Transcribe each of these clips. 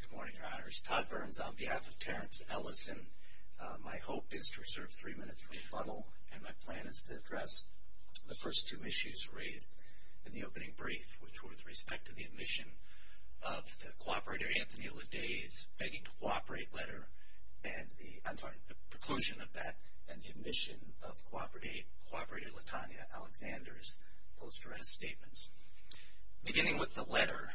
Good morning, Your Honors. Todd Burns on behalf of Terrence Ellison. My hope is to reserve three minutes to rebuttal and my plan is to address the first two issues raised in the opening brief, which were with respect to the admission of the cooperator Anthony LaDaze begging to cooperate letter and the, I'm sorry, the preclusion of that and the admission of cooperator LaTanya Alexander's post-duress statements. Beginning with the letter,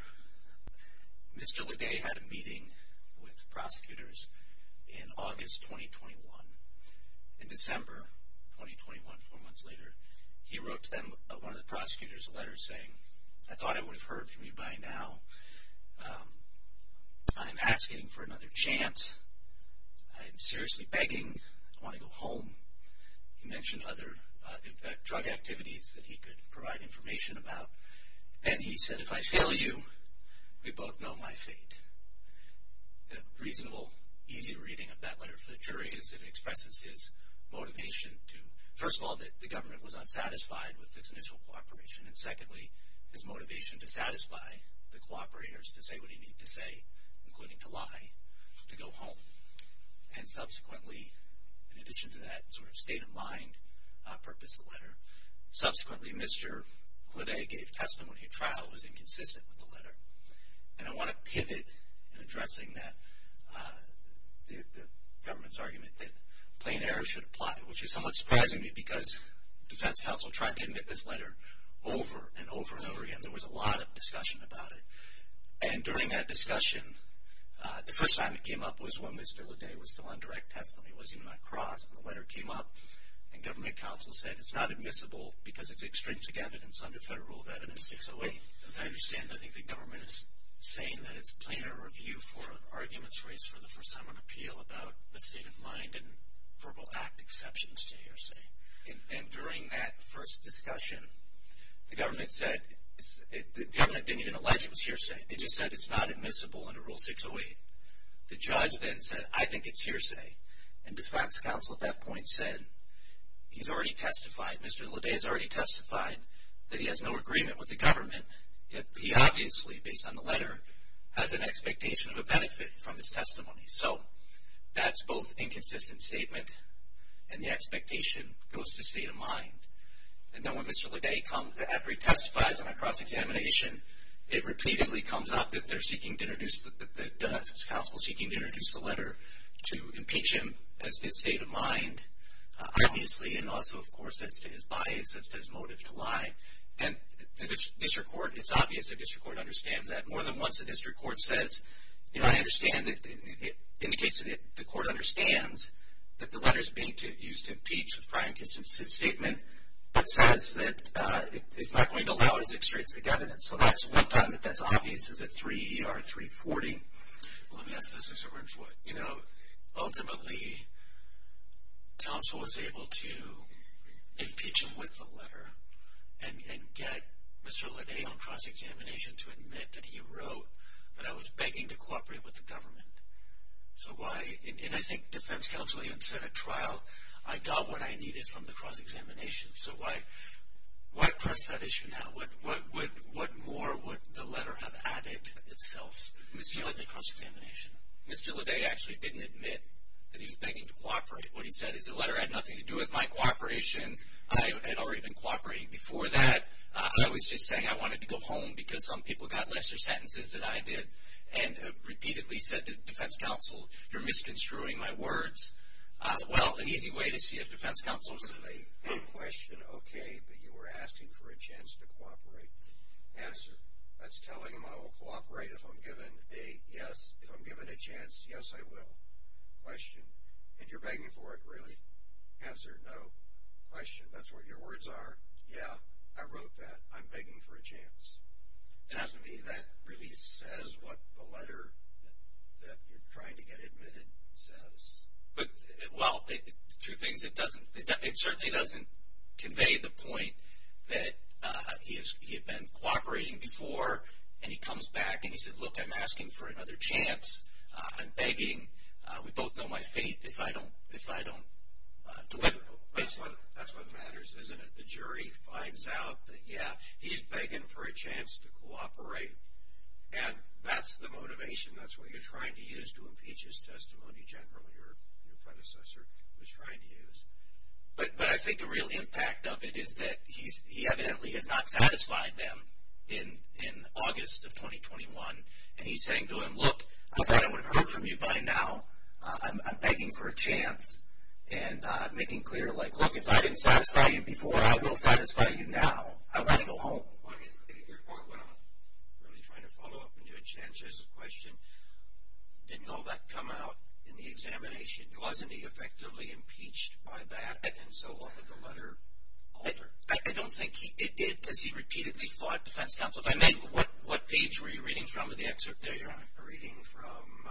Mr. LaDaze had a meeting with prosecutors in August 2021. In December 2021, four months later, he wrote to them, one of the prosecutors, a letter saying, I thought I would have heard from you by now. I'm asking for another chance. I'm seriously begging. I want to go home. He mentioned other drug activities that he could provide information about and he said, if I fail you, we both know my fate. A reasonable, easy reading of that letter for the jury as it expresses his motivation to, first of all, that the government was unsatisfied with this initial cooperation and secondly, his motivation to satisfy the cooperators to say what he needed to say, including to lie, to go home. And subsequently, in addition to that sort of state of mind purpose of the letter, subsequently, Mr. LaDaze gave testimony at trial that was inconsistent with the letter. And I want to pivot in addressing that, the government's argument that plain error should apply, which is somewhat surprising to me because defense counsel tried to admit this over and over and over again. There was a lot of discussion about it. And during that discussion, the first time it came up was when Mr. LaDaze was still on direct testimony. It wasn't even on a cross. And the letter came up and government counsel said, it's not admissible because it's extrinsic evidence under federal rule of evidence 608. As I understand, I think the government is saying that it's plain error review for arguments raised for the first time on appeal about the state of mind and verbal act exceptions to hearsay. And during that first discussion, the government said, the government didn't even allege it was hearsay. They just said it's not admissible under rule 608. The judge then said, I think it's hearsay. And defense counsel at that point said, he's already testified, Mr. LaDaze already testified that he has no agreement with the government. He obviously, based on the letter, has an expectation of benefit from his testimony. So that's both inconsistent statement and the expectation goes to state of mind. And then when Mr. LaDaze comes, after he testifies on a cross-examination, it repeatedly comes up that they're seeking to introduce, that the defense counsel's seeking to introduce the letter to impeach him as to his state of mind, obviously. And also, of course, as to his bias, as to his motive to lie. And the district court, it's obvious the district court understands that. More than once, the district court says, you know, I understand that it indicates that the court understands that the letter's being used to impeach with prior inconsistent statement, but says that it's not going to allow his extrinsic evidence. So that's one time that that's obvious, is it 3E or 340? Well, let me ask this, Mr. Rimswood. You know, ultimately, counsel was able to impeach him with the letter and get Mr. LaDaze on cross-examination to admit that he wrote that I was begging to cooperate with the government. So why, and I think defense counsel even said at trial, I got what I needed from the cross-examination. So why, why press that issue now? What more would the letter have added itself, misguided the cross-examination? Mr. LaDaze actually didn't admit that he was begging to cooperate. What he said is the letter had nothing to do with my cooperation. I had already been cooperating before that. I was just saying I wanted to go home because some people got lesser sentences than I did, and repeatedly said to defense counsel, you're misconstruing my words. Well, an easy way to see if defense counsel's... With a question, okay, but you were asking for a chance to cooperate. Answer, that's telling him I will cooperate if I'm given a yes, if I'm given a chance, yes, I will. Question, and you're begging for it, really? Answer, no. Question, that's what your words are? Yeah, I wrote that. I'm begging for a chance. To me, that really says what the letter that you're trying to get admitted says. But well, two things. It doesn't, it certainly doesn't convey the point that he had been cooperating before, and he comes back and he says, look, I'm asking for another chance. I'm begging. We both know my fate if I don't deliver. That's what matters, isn't it? The jury finds out that, yeah, he's begging for a chance to cooperate, and that's the motivation. That's what you're trying to use to impeach his testimony, generally, or your predecessor was trying to use. But I think the real impact of it is that he evidently has not satisfied them in August of 2021, and he's saying to them, look, I thought I would have heard from you by now. I'm begging for a chance, and making clear, like, look, if I didn't satisfy you before, I will satisfy you now. I want to go home. Well, I mean, your point went on. Really trying to follow up and do a chance as a question. Didn't all that come out in the examination? Wasn't he effectively impeached by that, and so on, with the letter? I don't think it did, because he repeatedly fought defense counsel. If I may, what page were you reading from of the excerpt there, Your Honor? A reading from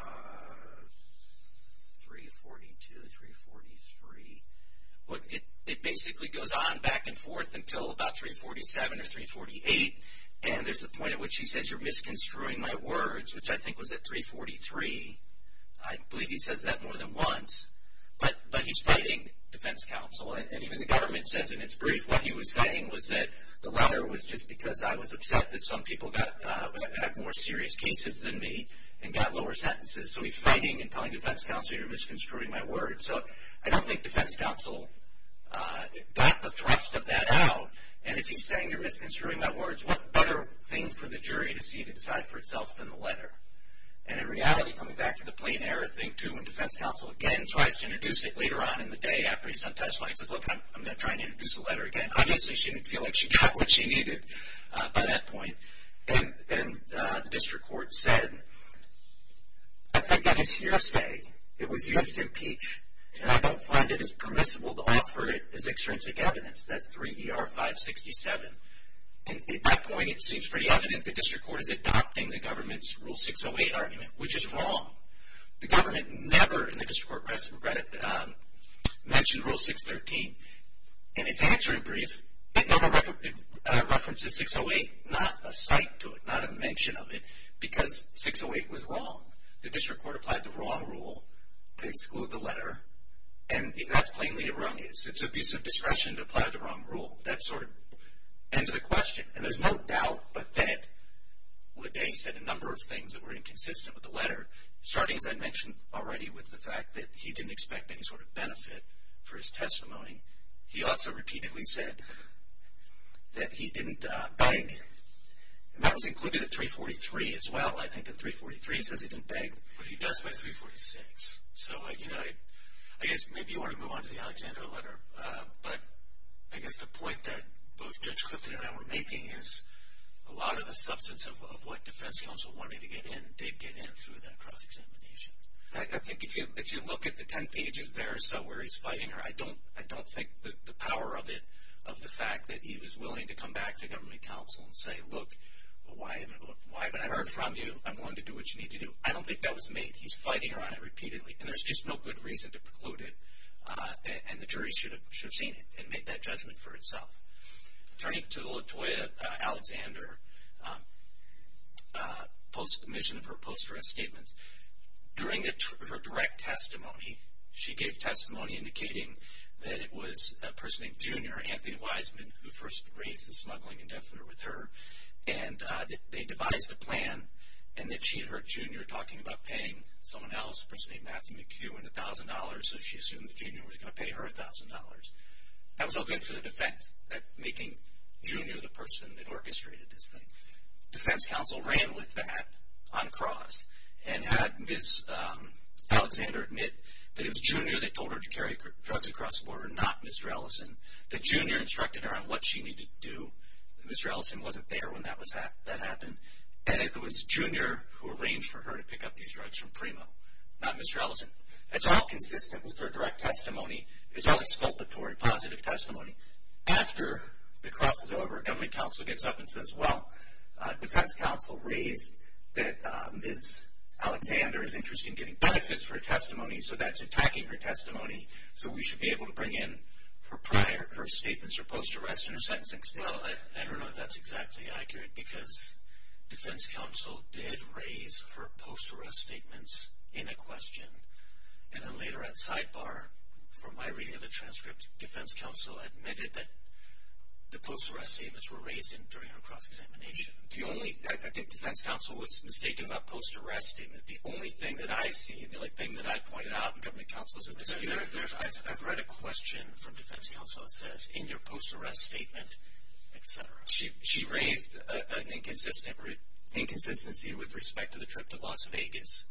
342, 343. It basically goes on back and forth until about 347 or 348, and there's a point at which he says, you're misconstruing my words, which I think was at 343. I believe he says that more than once, but he's fighting defense counsel, and even the government says in its brief what he was saying was that the letter was just because I was upset that some people had more serious cases than me and got lower sentences, so he's fighting and telling defense counsel you're misconstruing my words, so I don't think defense counsel got the thrust of that out, and if he's saying you're misconstruing my words, what better thing for the jury to see to decide for itself than the letter, and in reality, coming back to the plain error thing, when defense counsel again tries to introduce it later on in the day after he's done testifying, he says, look, I'm going to try and introduce the letter again. Obviously, she didn't feel like she got what she needed by that point, and the district court said, I think that is hearsay. It was used to impeach, and I don't find it as permissible to offer it as extrinsic evidence. That's 3ER567, and at that point, it seems pretty evident the district court is adopting the government's Rule 608 argument, which is wrong. The government never in the district court mentioned Rule 613, and its answer in brief, it never references 608, not a cite to it, not a mention of it, because 608 was wrong. The district court applied the wrong rule to exclude the letter, and that's plainly erroneous. It's abuse of discretion to apply the wrong rule. That's sort of the end of the question, and there's no doubt that Ledet said a number of things that were inconsistent with the letter, starting, as I mentioned already, with the fact that he didn't expect any sort of benefit for his testimony. He also repeatedly said that he didn't beg, and that was included in 343 as well. I think in 343, he says he didn't beg, but he does by 346, so I guess maybe you want to move on to the Alexander letter, but I guess the point that both Judge Clifton and I were making is a lot of the substance of what defense counsel wanted to get in did get in through that cross-examination. I think if you look at the 10 pages there, where he's fighting her, I don't think the power of it, of the fact that he was willing to come back to government counsel and say, look, why haven't I heard from you? I'm going to do what you need to do. I don't think that was made. He's fighting her on it repeatedly, and there's just no good reason to preclude it, and the jury should have seen it and made that judgment for itself. Turning to the Latoya Alexander mission of her post-arrest statements, during her direct testimony, she gave testimony indicating that it was a person named Junior, Anthony Wiseman, who first raised the smuggling indefinite with her, and they devised a plan, and that she and her junior were talking about paying someone else, a person named Matthew McHugh, and $1,000, so she assumed that Junior was going to pay her $1,000. That was all good for the defense, making Junior the person that orchestrated this thing. Defense counsel ran with that on cross, and had Ms. Alexander admit that it was Junior that told her to carry drugs across the border, not Mr. Ellison, that Junior instructed her on what she needed to do. Mr. Ellison wasn't there when that happened, and it was Junior who arranged for her to pick up these drugs from Primo, not Mr. Ellison. It's all consistent with her direct testimony. It's all exculpatory, positive testimony. After the cross is over, a government counsel gets up and says, well, defense counsel raised that Ms. Alexander is interested in getting benefits for her testimony, so that's attacking her testimony, so we should be able to bring in her prior statements, her post-arrest and her sentencing statements. Well, I don't know if that's exactly accurate, because defense counsel did raise her post-arrest statements in a question, and then later at sidebar, from my reading of the transcript, defense counsel admitted that the post-arrest statements were raised during her cross-examination. I think defense counsel was mistaken about post-arrest statement. The only thing that I see, and the only thing that I pointed out, and government counsels have disputed. I've read a question from defense counsel that your post-arrest statement, etc. She raised an inconsistency with respect to the trip to Las Vegas,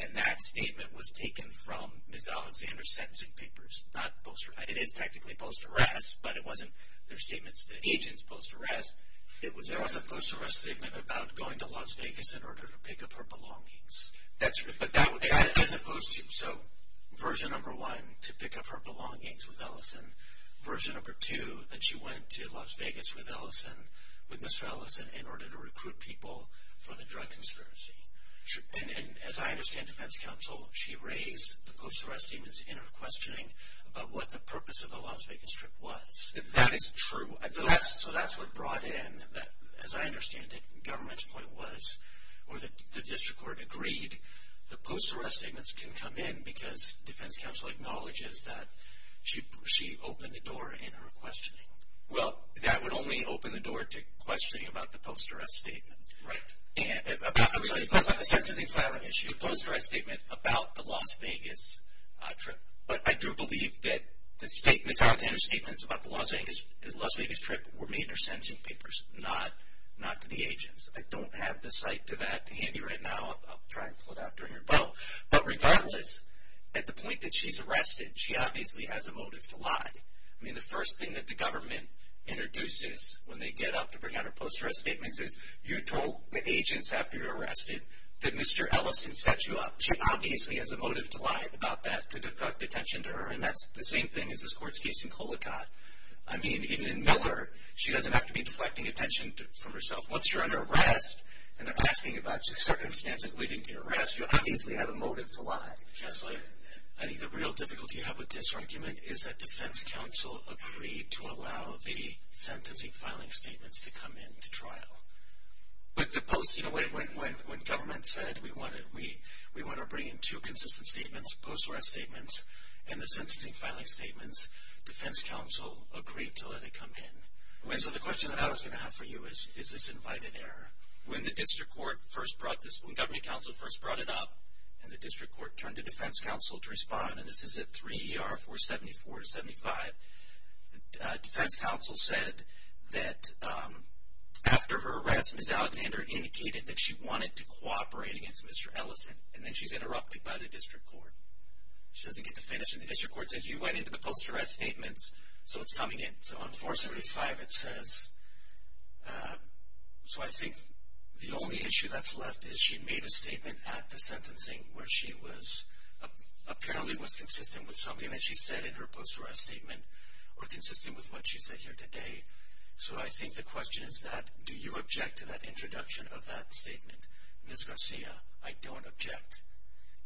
and that statement was taken from Ms. Alexander's sentencing papers. It is technically post-arrest, but it wasn't their statements to agents post-arrest. There was a post-arrest statement about going to Las Vegas in order to pick up her belongings. That's true, but as opposed to, so version number one, to pick up her belongings with Ellison. Version number two, that she went to Las Vegas with Ellison, with Mr. Ellison, in order to recruit people for the drug conspiracy. As I understand defense counsel, she raised the post-arrest statements in her questioning about what the purpose of the Las Vegas trip was. That is true. So that's what brought in, as I understand it, government's point was, or the district court agreed, the post-arrest statements can come in because defense counsel acknowledges that she opened the door in her questioning. Well, that would only open the door to questioning about the post-arrest statement. Right. And about the sentencing filing issue. Post-arrest statement about the Las Vegas trip. But I do believe that Ms. Alexander's statements about the Las Vegas trip were made in her sentencing papers, not to the agents. I don't have the site to that handy right now. I'll try and pull it out during your vote. But regardless, at the point that she's arrested, she obviously has a motive to lie. I mean, the first thing that the government introduces when they get up to bring out her post-arrest statements is, you told the agents after you're arrested that Mr. Ellison set you up. She obviously has a motive to lie about that, to deflect attention to her. And that's the same thing as this court's case in Colicott. I mean, even in Miller, she doesn't have to be deflecting attention from herself. Once you're under arrest and they're asking about your circumstances leading to your arrest, you obviously have a motive to lie. Counselor, I think the real difficulty you have with this argument is that defense counsel agreed to allow the sentencing filing statements to come into trial. But the post, you know, when government said we want to bring in two consistent statements, post-arrest statements and the sentencing filing statements, defense counsel agreed to let it come in. And so the question that I was going to have for you is, is this invited error? When the district court first brought this, when government counsel first brought it up and the district court turned to defense counsel to respond, and this is at 3 ER 474-75, defense counsel said that after her arrest, Ms. Alexander indicated that she wanted to cooperate against Mr. Ellison. And then she's interrupted by the district court. She doesn't get to finish and the district court says, you went to the post-arrest statements, so it's coming in. So on 475 it says, so I think the only issue that's left is she made a statement at the sentencing where she was apparently was consistent with something that she said in her post-arrest statement or consistent with what she said here today. So I think the question is that, do you object to that introduction of that statement? Ms. Garcia, I don't object,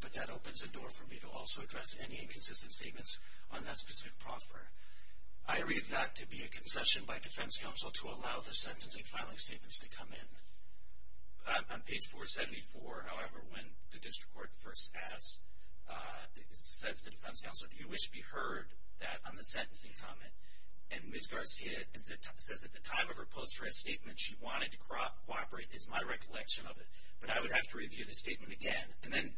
but that opens a door for me to also address any inconsistent statements on that specific proffer. I read that to be a concession by defense counsel to allow the sentencing filing statements to come in. On page 474, however, when the district court first asks, says to defense counsel, do you wish to be heard that on the sentencing comment? And Ms. Garcia says at the time of her post-arrest statement, she wanted to cooperate is my recollection of it, but I would have to review the statement again. And then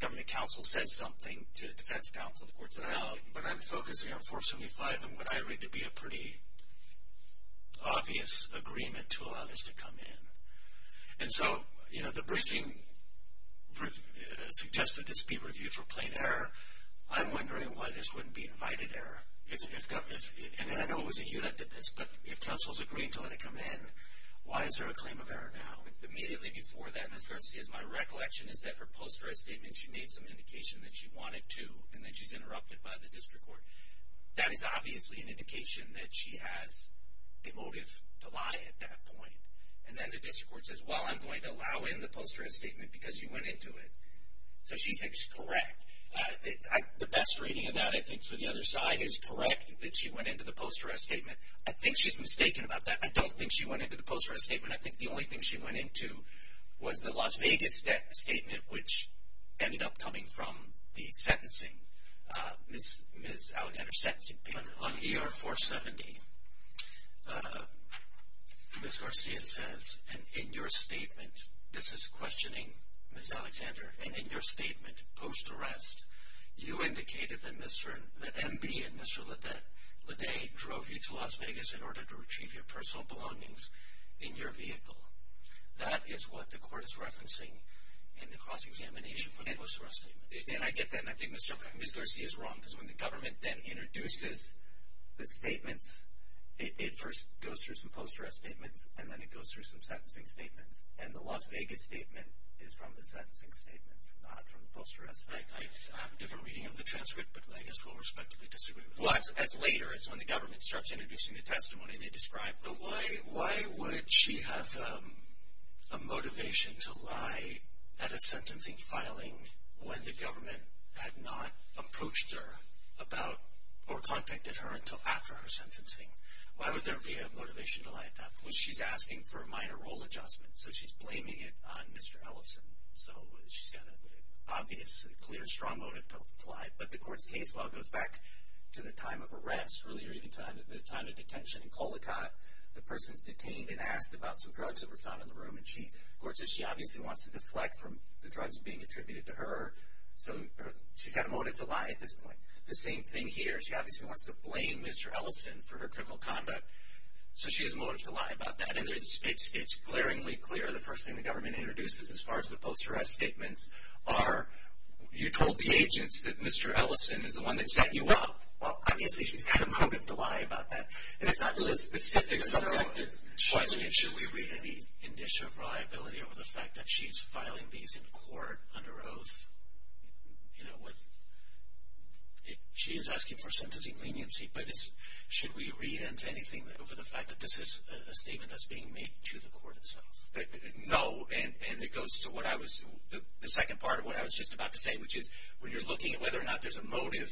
government counsel says something to defense counsel, the court says no, but I'm focusing on 475 and what I read to be a pretty obvious agreement to allow this to come in. And so, you know, the briefing suggested this be reviewed for plain error. I'm wondering why this wouldn't be invited error if government, and then I know it wasn't you that did this, but if counsel's agreed to let it come in, why is there a claim of error now? Immediately before that, Ms. Garcia, is my recollection is that her post-arrest statement, she made some indication that she wanted to, and then she's interrupted by the district court. That is obviously an indication that she has a motive to lie at that point. And then the district court says, well, I'm going to allow in the post-arrest statement because you went into it. So she's correct. The best reading of that, I think, so the other side is correct that she went into the post-arrest statement. I think she's mistaken about that. I don't think she went into the post-arrest statement. I think the only thing she went into was the Las Vegas statement, which ended up coming from the sentencing, Ms. Alexander's sentencing page. On ER 470, Ms. Garcia says, and in your statement, this is questioning Ms. Alexander, and in your statement post-arrest, you indicated that MB and Mr. Ledet drove you to Las Vegas in order to retrieve your personal belongings in your vehicle. That is what the court is referencing in the cross-examination for the post-arrest statement. And I get that, and I think Ms. Garcia is wrong because when the government then introduces the statements, it first goes through some post-arrest statements, and then it goes through some sentencing statements. And the Las Vegas statement is from the sentencing statements, not from the post-arrest statement. I have a different reading of the transcript, but I guess we'll respectively disagree with that. Well, that's later. It's when the government starts introducing the testimony they described. But why would she have a motivation to lie at a sentencing filing when the government had not approached her about, or contacted her until after her sentencing? Why would there be a motivation to lie at that? Well, she's asking for a minor role adjustment, so she's blaming it on Mr. Ellison. So she's got an obvious, clear, strong motive to lie. But the court's case law goes back to the time of arrest, really, or even the time of detention. In Colicotte, the person's detained and asked about some drugs that were found in the room. And the court says she obviously wants to deflect from the drugs being attributed to her, so she's got a motive to lie at this point. The same thing here, she obviously wants to blame Mr. Ellison for her criminal conduct, so she has a motive to lie about that. And it's glaringly clear, the first thing the government introduces as far as the post-arrest statements are, you told the agents that Mr. Ellison is the one that set you up. Well, obviously, she's got a motive to lie about that. And it's not really a specific subject. Should we read any indicia of reliability over the fact that she's filing these in court under oath? She is asking for sentencing leniency, but should we read into anything over the fact that this is a statement that's being made to the court itself? No. And it goes to the second part of what I was just about to say, which is, when you're looking at whether or not there's a motive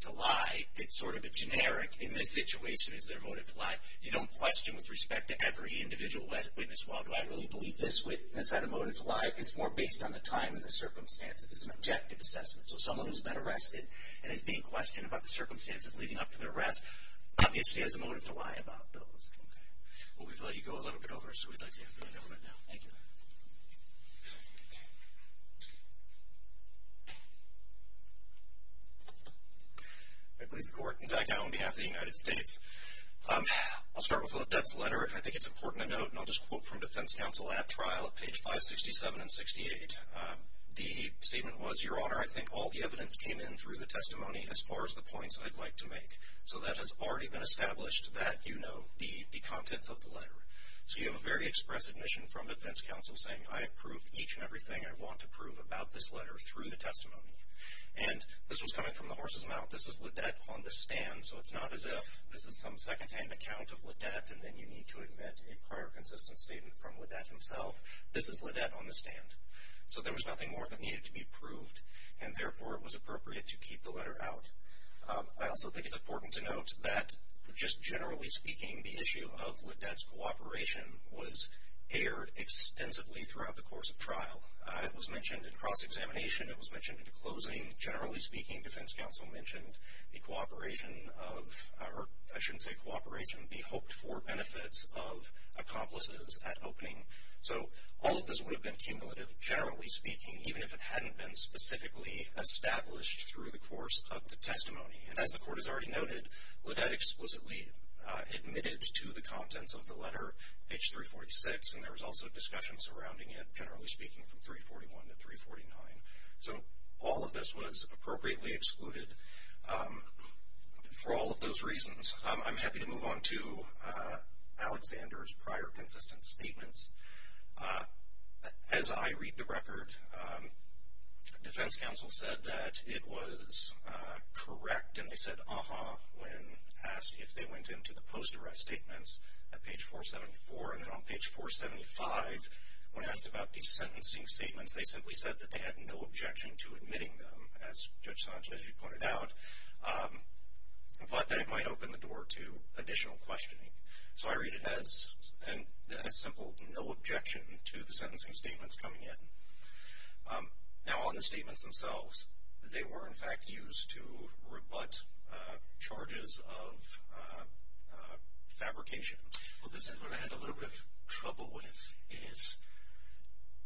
to lie, it's sort of a generic, in this situation, is there a motive to lie? You don't question with respect to every individual witness, well, do I really believe this witness had a motive to lie? It's more based on the time and the circumstances. It's an objective assessment. So someone who's been arrested and is being questioned about the circumstances leading up to the arrest, obviously has a motive to lie about those. Okay. Well, we've let you go a little bit over, so we'd like to hear from you right now. Thank you. I please the court. Zach Dow on behalf of the United States. I'll start with the letter. I think it's important to note, and I'll just quote from defense counsel at trial at page 567 and 68. The statement was, Your Honor, I think all the evidence came in through the testimony as far as the points I'd like to make. So that has already been established that you know the contents of the letter. So you have a very expressive mission from defense counsel saying, I have proved each and everything I want to prove about this letter through the testimony. And this was coming from the horse's mouth. This is LaDette on the stand, so it's not as if this is some secondhand account of LaDette, and then you need to admit a prior consistent statement from LaDette himself. This is LaDette on the stand. So there was nothing more that needed to be proved, and therefore it was appropriate to keep the letter out. I also think it's important to note that just generally speaking, the issue of LaDette's cooperation was aired extensively throughout the course of trial. It was mentioned in cross examination. It was mentioned in closing. Generally speaking, defense counsel mentioned the cooperation of, or I shouldn't say cooperation, the hoped-for benefits of accomplices at opening. So all of this would have been cumulative, generally speaking, even if it hadn't been specifically established through the course of the testimony. And as the court has already noted, LaDette explicitly admitted to the contents of the letter, page 346, and there was also discussion surrounding it, generally speaking, from 341 to 349. So all of this was appropriately excluded for all of those reasons. I'm happy to move on to Alexander's prior consistent statements. As I read the record, defense counsel said that it was correct, and they said uh-huh when asked if they went into the post-arrest statements at page 474. And then on page 475, when asked about these sentencing statements, they simply said that they had no objection to admitting them, as Judge Sanchez, you pointed out, but that it might open the door to additional questioning. So I read it as simple, no objection to the sentencing statements coming in. Now on the statements themselves, they were in fact used to rebut charges of fabrication. Well, this is what I had a little bit of trouble with, is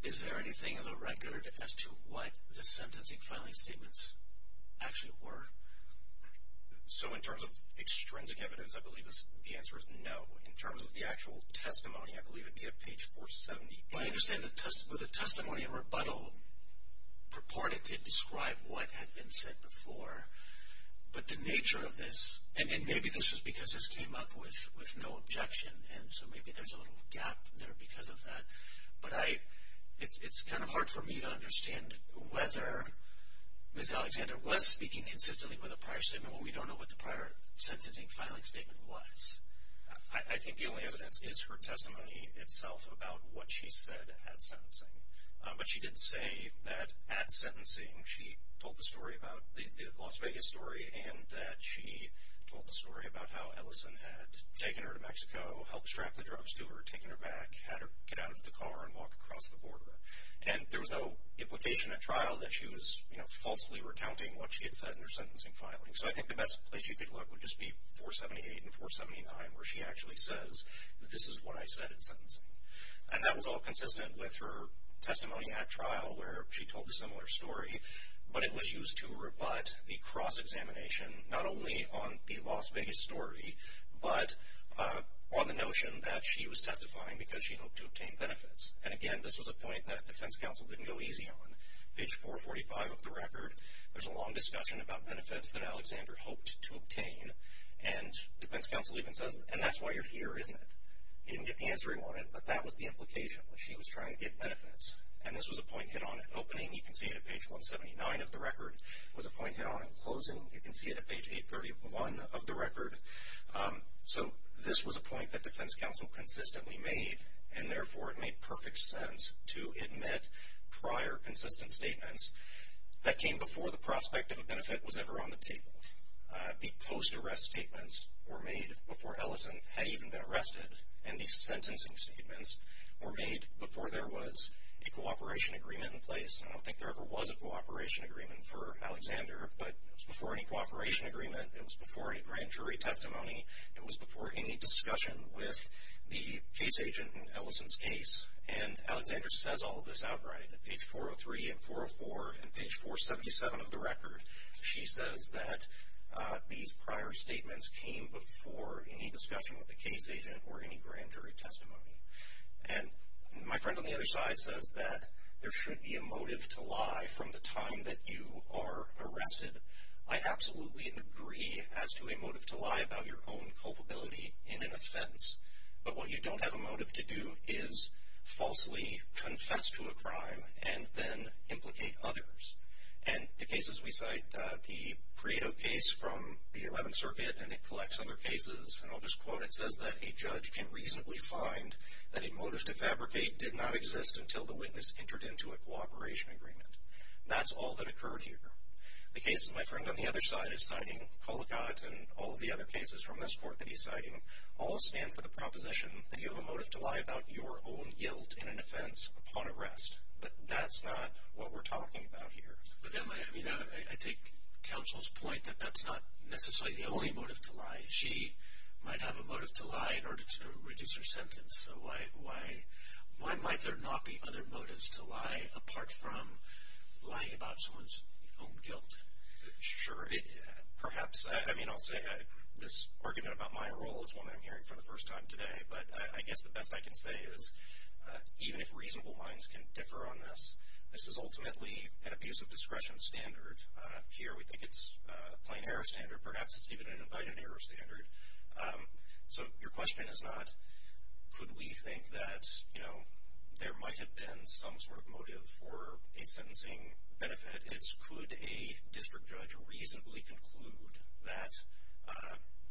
is there anything in the record as to what the sentencing filing statements actually were? So in terms of extrinsic evidence, I believe the answer is no. In terms of the actual testimony, I believe it'd be at page 475. I understand the testimony of rebuttal purported to describe what had been said before, but the nature of this, and maybe this was because this came up with no objection, and so maybe there's a little gap there because of that, but it's kind of hard for me to understand whether Ms. Alexander was speaking consistently with a prior statement when we don't know what the prior sentencing filing statement was. I think the only evidence is her testimony itself about what she said at sentencing, but she did say that at sentencing she told the story about the Las Vegas story and that she told the story about how Ellison had taken her to Mexico, helped strap the drugs to her, taken her back, had her get out of the car and walk across the border, and there was no implication at trial that she was falsely recounting what she had said in her sentencing filing. So I think the best place you could look would just be 478 and 479, where she actually says, this is what I said at sentencing. And that was all consistent with her testimony at trial where she told a similar story, but it was used to rebut the cross-examination, not only on the Las Vegas story, but on the notion that she was testifying because she hoped to obtain benefits. And again, this was a point that defense counsel didn't go easy on. Page 445 of the record, there's a long discussion about benefits that Alexander hoped to obtain, and defense counsel even says, and that's why you're here, isn't it? He didn't get the answering on it, but that was the implication, was she was trying to get benefits. And this was a point hit on at opening. You can see it at page 179 of the record. It was a point hit on at closing. You can see it at page 831 of the record. So this was a point that defense counsel consistently made, and therefore it made perfect sense to admit prior consistent statements that came before the prospect of a benefit was ever on the table. The post-arrest statements were made before Ellison had even been arrested, and the sentencing statements were made before there was a cooperation agreement in place. I don't think there ever was a cooperation agreement for Alexander, but it was before any cooperation agreement. It was before any grand jury testimony. It was before any discussion with the case agent in Ellison's case. And Alexander says all of this outright at page 403 and 404 and page 477 of the record. She says that these prior statements came before any discussion with the case agent or any grand jury testimony. And my friend on the other side says that there should be a motive to lie from the time that you are arrested. I absolutely agree as to a motive to lie about your own culpability in an offense. But what you don't have a motive to do is falsely confess to a crime and then implicate others. And the cases we cite, the Prieto case from the 11th Circuit, and it collects other cases, and I'll just quote, it says that a judge can reasonably find that a motive to fabricate did not exist until the witness entered into a cooperation agreement. That's all that occurred here. The case that my friend on the other side is citing, Kolokot, and all of the other cases from this court that he's citing, all stand for the proposition that you have a motive to lie about your own guilt in an offense upon arrest. But that's not what we're talking about here. But then, I mean, I take counsel's point that that's not necessarily the only motive to lie. She might have a motive to lie in order to reduce her sentence. So why might there not be other motives to lie apart from lying about someone's own guilt? Sure. Perhaps. I mean, I'll say this argument about my role is one that I'm hearing for the first time today. But I guess the best I can say is even if reasonable minds can differ on this, this is ultimately an abuse of discretion standard. Here, we think it's a plain error standard. Perhaps it's even an invited error standard. So your question is not, could we think that, you know, there might have been some sort of motive for a sentencing benefit. It's, could a district judge reasonably conclude that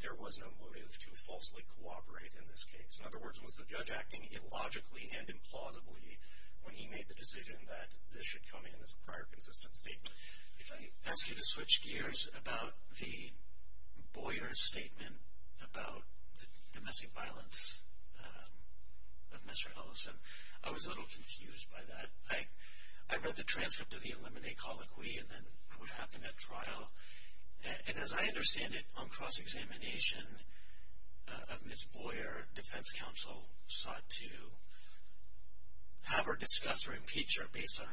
there was no motive to falsely cooperate in this case? In other words, was the judge acting illogically and implausibly when he made the decision that this should come in as a prior consistent statement? If I ask you to switch gears about the Boyer's statement about the domestic violence of Mr. Ellison, I was a little confused by that. I read the transcript of the eliminate colloquy and then what happened at trial. And as I understand it on cross-examination of Ms. Boyer, defense counsel sought to have her discuss or impeach her based on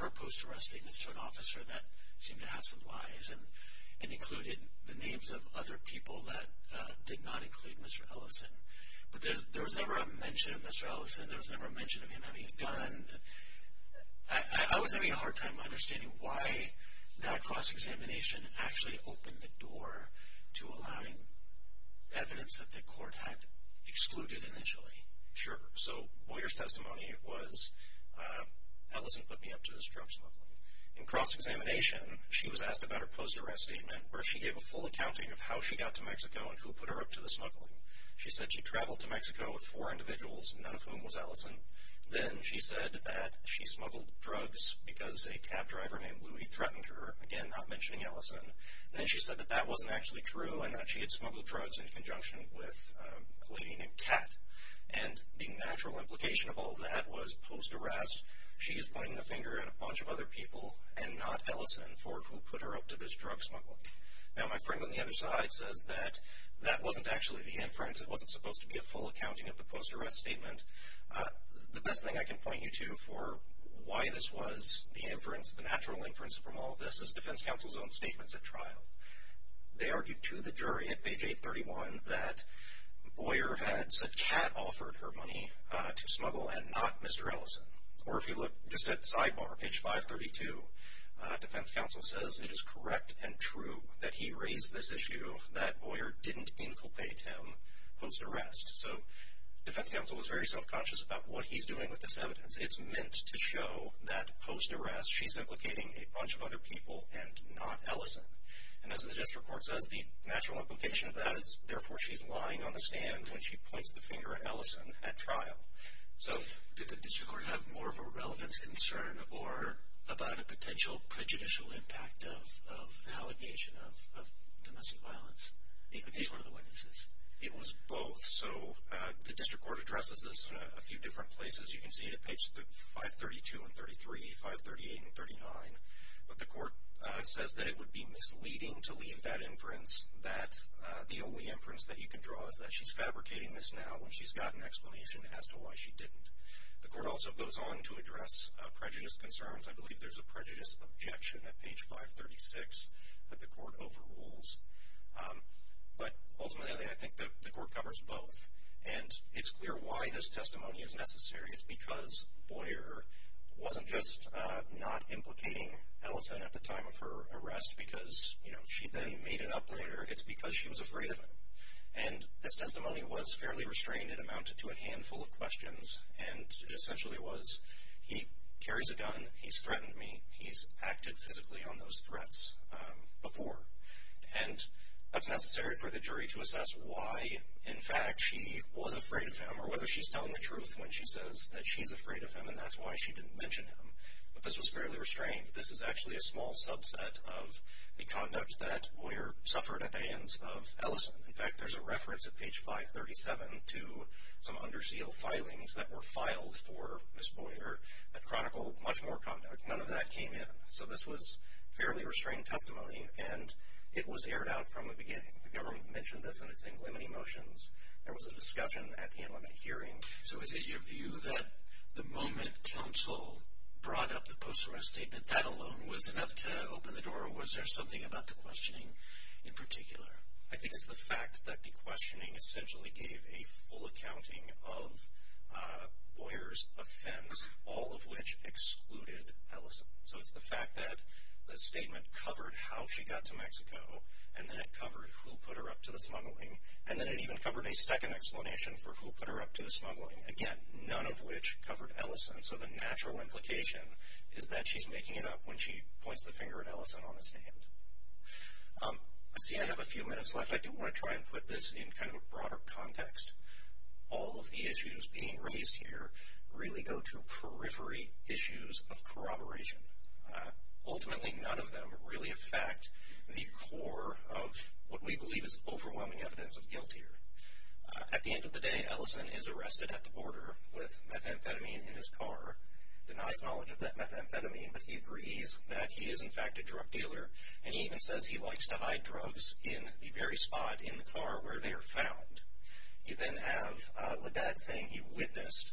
her post arrest statements to an officer that seemed to have some lies and included the names of other people that did not include Mr. Ellison. But there was never a mention of Mr. Ellison. There was never a mention of him having a gun. I was having a hard time understanding why that cross-examination actually opened the door to allowing evidence that the court had excluded initially. Sure, so Boyer's testimony was Ellison put me up to this drug smuggling. In cross-examination, she was asked about her post arrest statement where she gave a full accounting of how she got to Mexico and who put her up to the smuggling. She said she traveled to Mexico with four individuals, none of whom was Ellison. Then she said that she smuggled drugs because a cab driver named Louie threatened her, again not mentioning Ellison. Then she said that that wasn't actually true and that she had smuggled drugs in conjunction with a lady named Kat. And the natural implication of all that was post arrest. She is pointing the finger at a bunch of other people and not Ellison for who put her up to this drug smuggling. Now, my friend on the other side says that that wasn't actually the inference. It wasn't supposed to be a full accounting of the post arrest statement. The best thing I can point you to for why this was the inference, the natural inference from all of this is defense counsel's own statements at trial. They argued to the jury at page 831 that Boyer had said Kat offered her money to smuggle and not Mr. Ellison. Or if you look just at sidebar, page 532, defense counsel says it is correct and true that he raised this issue that Boyer didn't inculpate him post arrest. So defense counsel was very self-conscious about what he's doing with this evidence. It's meant to show that post arrest she's implicating a bunch of other people and not Ellison. As the district court says, the natural implication of that is therefore she's lying on the stand when she points the finger at Ellison at trial. So did the district court have more of a relevance concern or about a potential prejudicial impact of an allegation of domestic violence against one of the witnesses? It was both. So the district court addresses this in a few different places. You can see it at page 532 and 33, 538 and 39. But the court says that it would be misleading to leave that inference that the only inference that you can draw is that she's fabricating this now when she's got an explanation as to why she didn't. The court also goes on to address prejudice concerns. I believe there's a prejudice objection at page 536 that the court overrules. But ultimately, I think the court covers both. And it's clear why this testimony is necessary. It's because Boyer wasn't just not implicating Ellison at the time of her arrest because she then made it up later. It's because she was afraid of him. And this testimony was fairly restrained. It amounted to a handful of questions. And it essentially was, he carries a gun. He's threatened me. He's acted physically on those threats before. And that's necessary for the jury to assess why, in fact, she was afraid of him or whether she's telling the truth when she says that she's afraid of him and that's why she didn't mention him. But this was fairly restrained. This is actually a small subset of the conduct that Boyer suffered at the hands of Ellison. In fact, there's a reference at page 537 to some under seal filings that were filed for Ms. Boyer that chronicled much more conduct. None of that came in. So this was fairly restrained testimony. And it was aired out from the beginning. The government mentioned this in its inlimity motions. There was a discussion at the inlimit hearing. So is it your view that the moment counsel brought up the post-mortem statement, that alone was enough to open the door? Was there something about the questioning in particular? I think it's the fact that the questioning essentially gave a full accounting of Boyer's offense, all of which excluded Ellison. So it's the fact that the statement covered how she got to Mexico. And then it covered who put her up to the smuggling. And then it even covered a second explanation for who put her up to the smuggling. Again, none of which covered Ellison. So the natural implication is that she's making it up when she points the finger at Ellison on the stand. See, I have a few minutes left. I do want to try and put this in kind of a broader context. All of the issues being raised here really go to periphery issues of corroboration. Ultimately, none of them really affect the core of what we believe is overwhelming evidence of guilt here. At the end of the day, Ellison is arrested at the border with methamphetamine in his car, denies knowledge of that methamphetamine. But he agrees that he is, in fact, a drug dealer. And he even says he likes to hide drugs in the very spot in the car where they are found. You then have Ledet saying he witnessed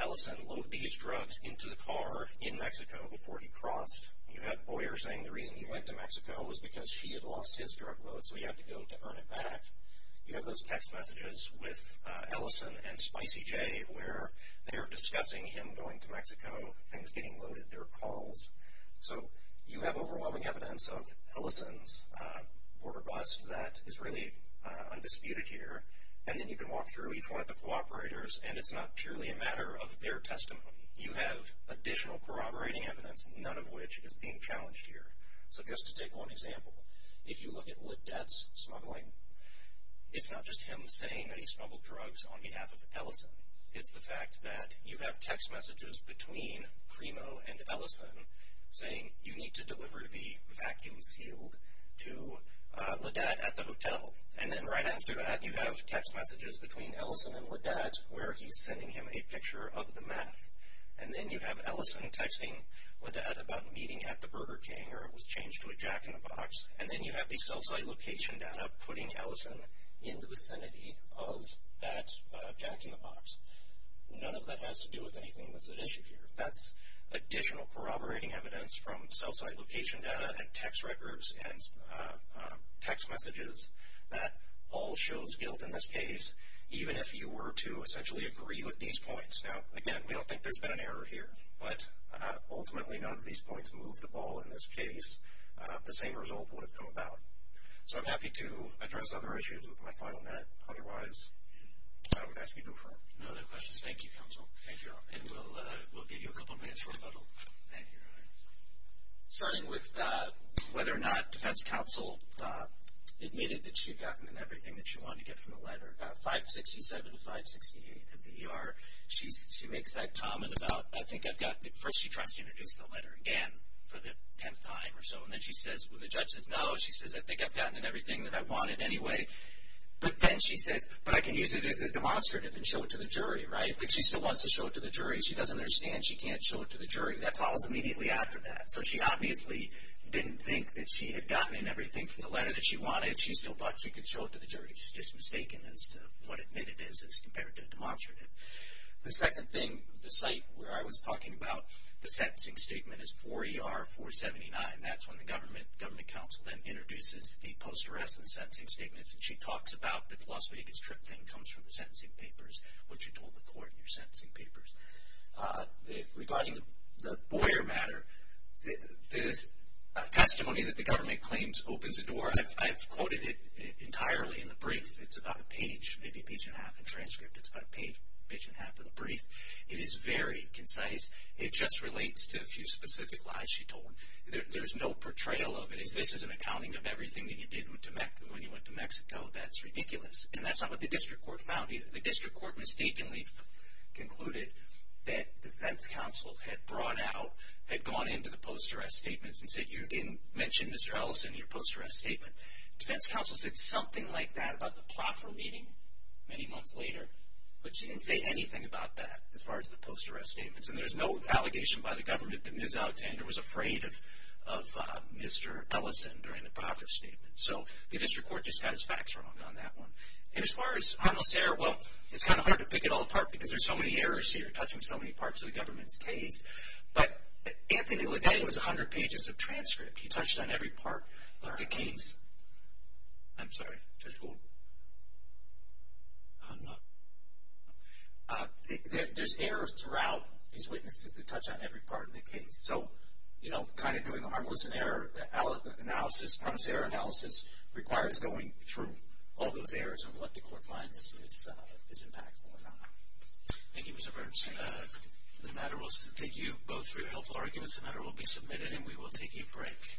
Ellison load these drugs into the car in Mexico before he crossed. You have Boyer saying the reason he went to Mexico was because she had lost his drug load, so he had to go to earn it back. You have those text messages with Ellison and Spicy J where they're discussing him going to Mexico, things getting loaded, their calls. So you have overwhelming evidence of Ellison's border bust that is really undisputed here. And then you can walk through each one of the cooperators, and it's not purely a matter of their testimony. You have additional corroborating evidence, none of which is being challenged here. So just to take one example, if you look at Ledet's smuggling, it's not just him saying that he smuggled drugs on behalf of Ellison. It's the fact that you have text messages between Primo and Ellison saying you need to deliver the vacuum sealed to Ledet at the hotel. And then right after that, you have text messages between Ellison and Ledet where he's sending him a picture of the meth. And then you have Ellison texting Ledet about meeting at the Burger King, or it was changed to a Jack in the Box. And then you have the cell site location data putting Ellison in the vicinity of that Jack in the Box. None of that has to do with anything that's at issue here. That's additional corroborating evidence from cell site location data and text records and text messages that all shows guilt in this case, even if you were to essentially agree with these points. Now, again, we don't think there's been an error here, but ultimately none of these points move the ball in this case. The same result would have come about. So I'm happy to address other issues with my final minute. Otherwise, I would ask you to move forward. No other questions. Thank you, counsel. Thank you. And we'll give you a couple of minutes for rebuttal. Thank you. Starting with whether or not defense counsel admitted that she had gotten in everything that she wanted to get from the letter, 567 to 568 of the ER, she makes that comment about, I think I've gotten it. First, she tries to introduce the letter again for the 10th time or so. And then she says, when the judge says no, she says, I think I've gotten in everything that I wanted anyway. But then she says, but I can use it as a demonstrative and show it to the jury, right? She still wants to show it to the jury. She doesn't understand. She can't show it to the jury. That follows immediately after that. So she obviously didn't think that she had gotten in everything from the letter that she wanted. She still thought she could show it to the jury. She's just mistaken as to what admitted is as compared to a demonstrative. The second thing, the site where I was talking about the sentencing statement is 4 ER 479. That's when the government counsel then introduces the post-arrest and the sentencing statements. And she talks about the Las Vegas trip thing comes from the sentencing papers, what you told the court in your sentencing papers. Regarding the Boyer matter, there's a testimony that the government claims opens a door. I've quoted it entirely in the brief. It's about a page, maybe a page and a half in transcript. It's about a page, page and a half of the brief. It is very concise. It just relates to a few specific lies she told. There's no portrayal of it. This is an accounting of everything that you did when you went to Mexico. That's ridiculous. And that's not what the district court found either. The district court mistakenly concluded that defense counsel had brought out, had gone into the post-arrest statements and said, you didn't mention Mr. Ellison in your post-arrest statement. Defense counsel said something like that about the platform meeting many months later. But she didn't say anything about that as far as the post-arrest statements. And there's no allegation by the government that Ms. Alexander was afraid of Mr. Ellison during the profit statement. So the district court just has facts wrong on that one. And as far as Hanel Serra, well, it's kind of hard to pick it all apart because there's so many errors here, touching so many parts of the government's case. But Anthony Ledet was 100 pages of transcript. He touched on every part of the case. I'm sorry. Judge Gould? There's errors throughout these witnesses that touch on every part of the case. So, you know, kind of doing a harmless error analysis, harmless error analysis requires going through all those errors and what the court finds is impactful or not. Thank you, Mr. Burns. The matter will take you both for your helpful arguments. The matter will be submitted and we will take a break.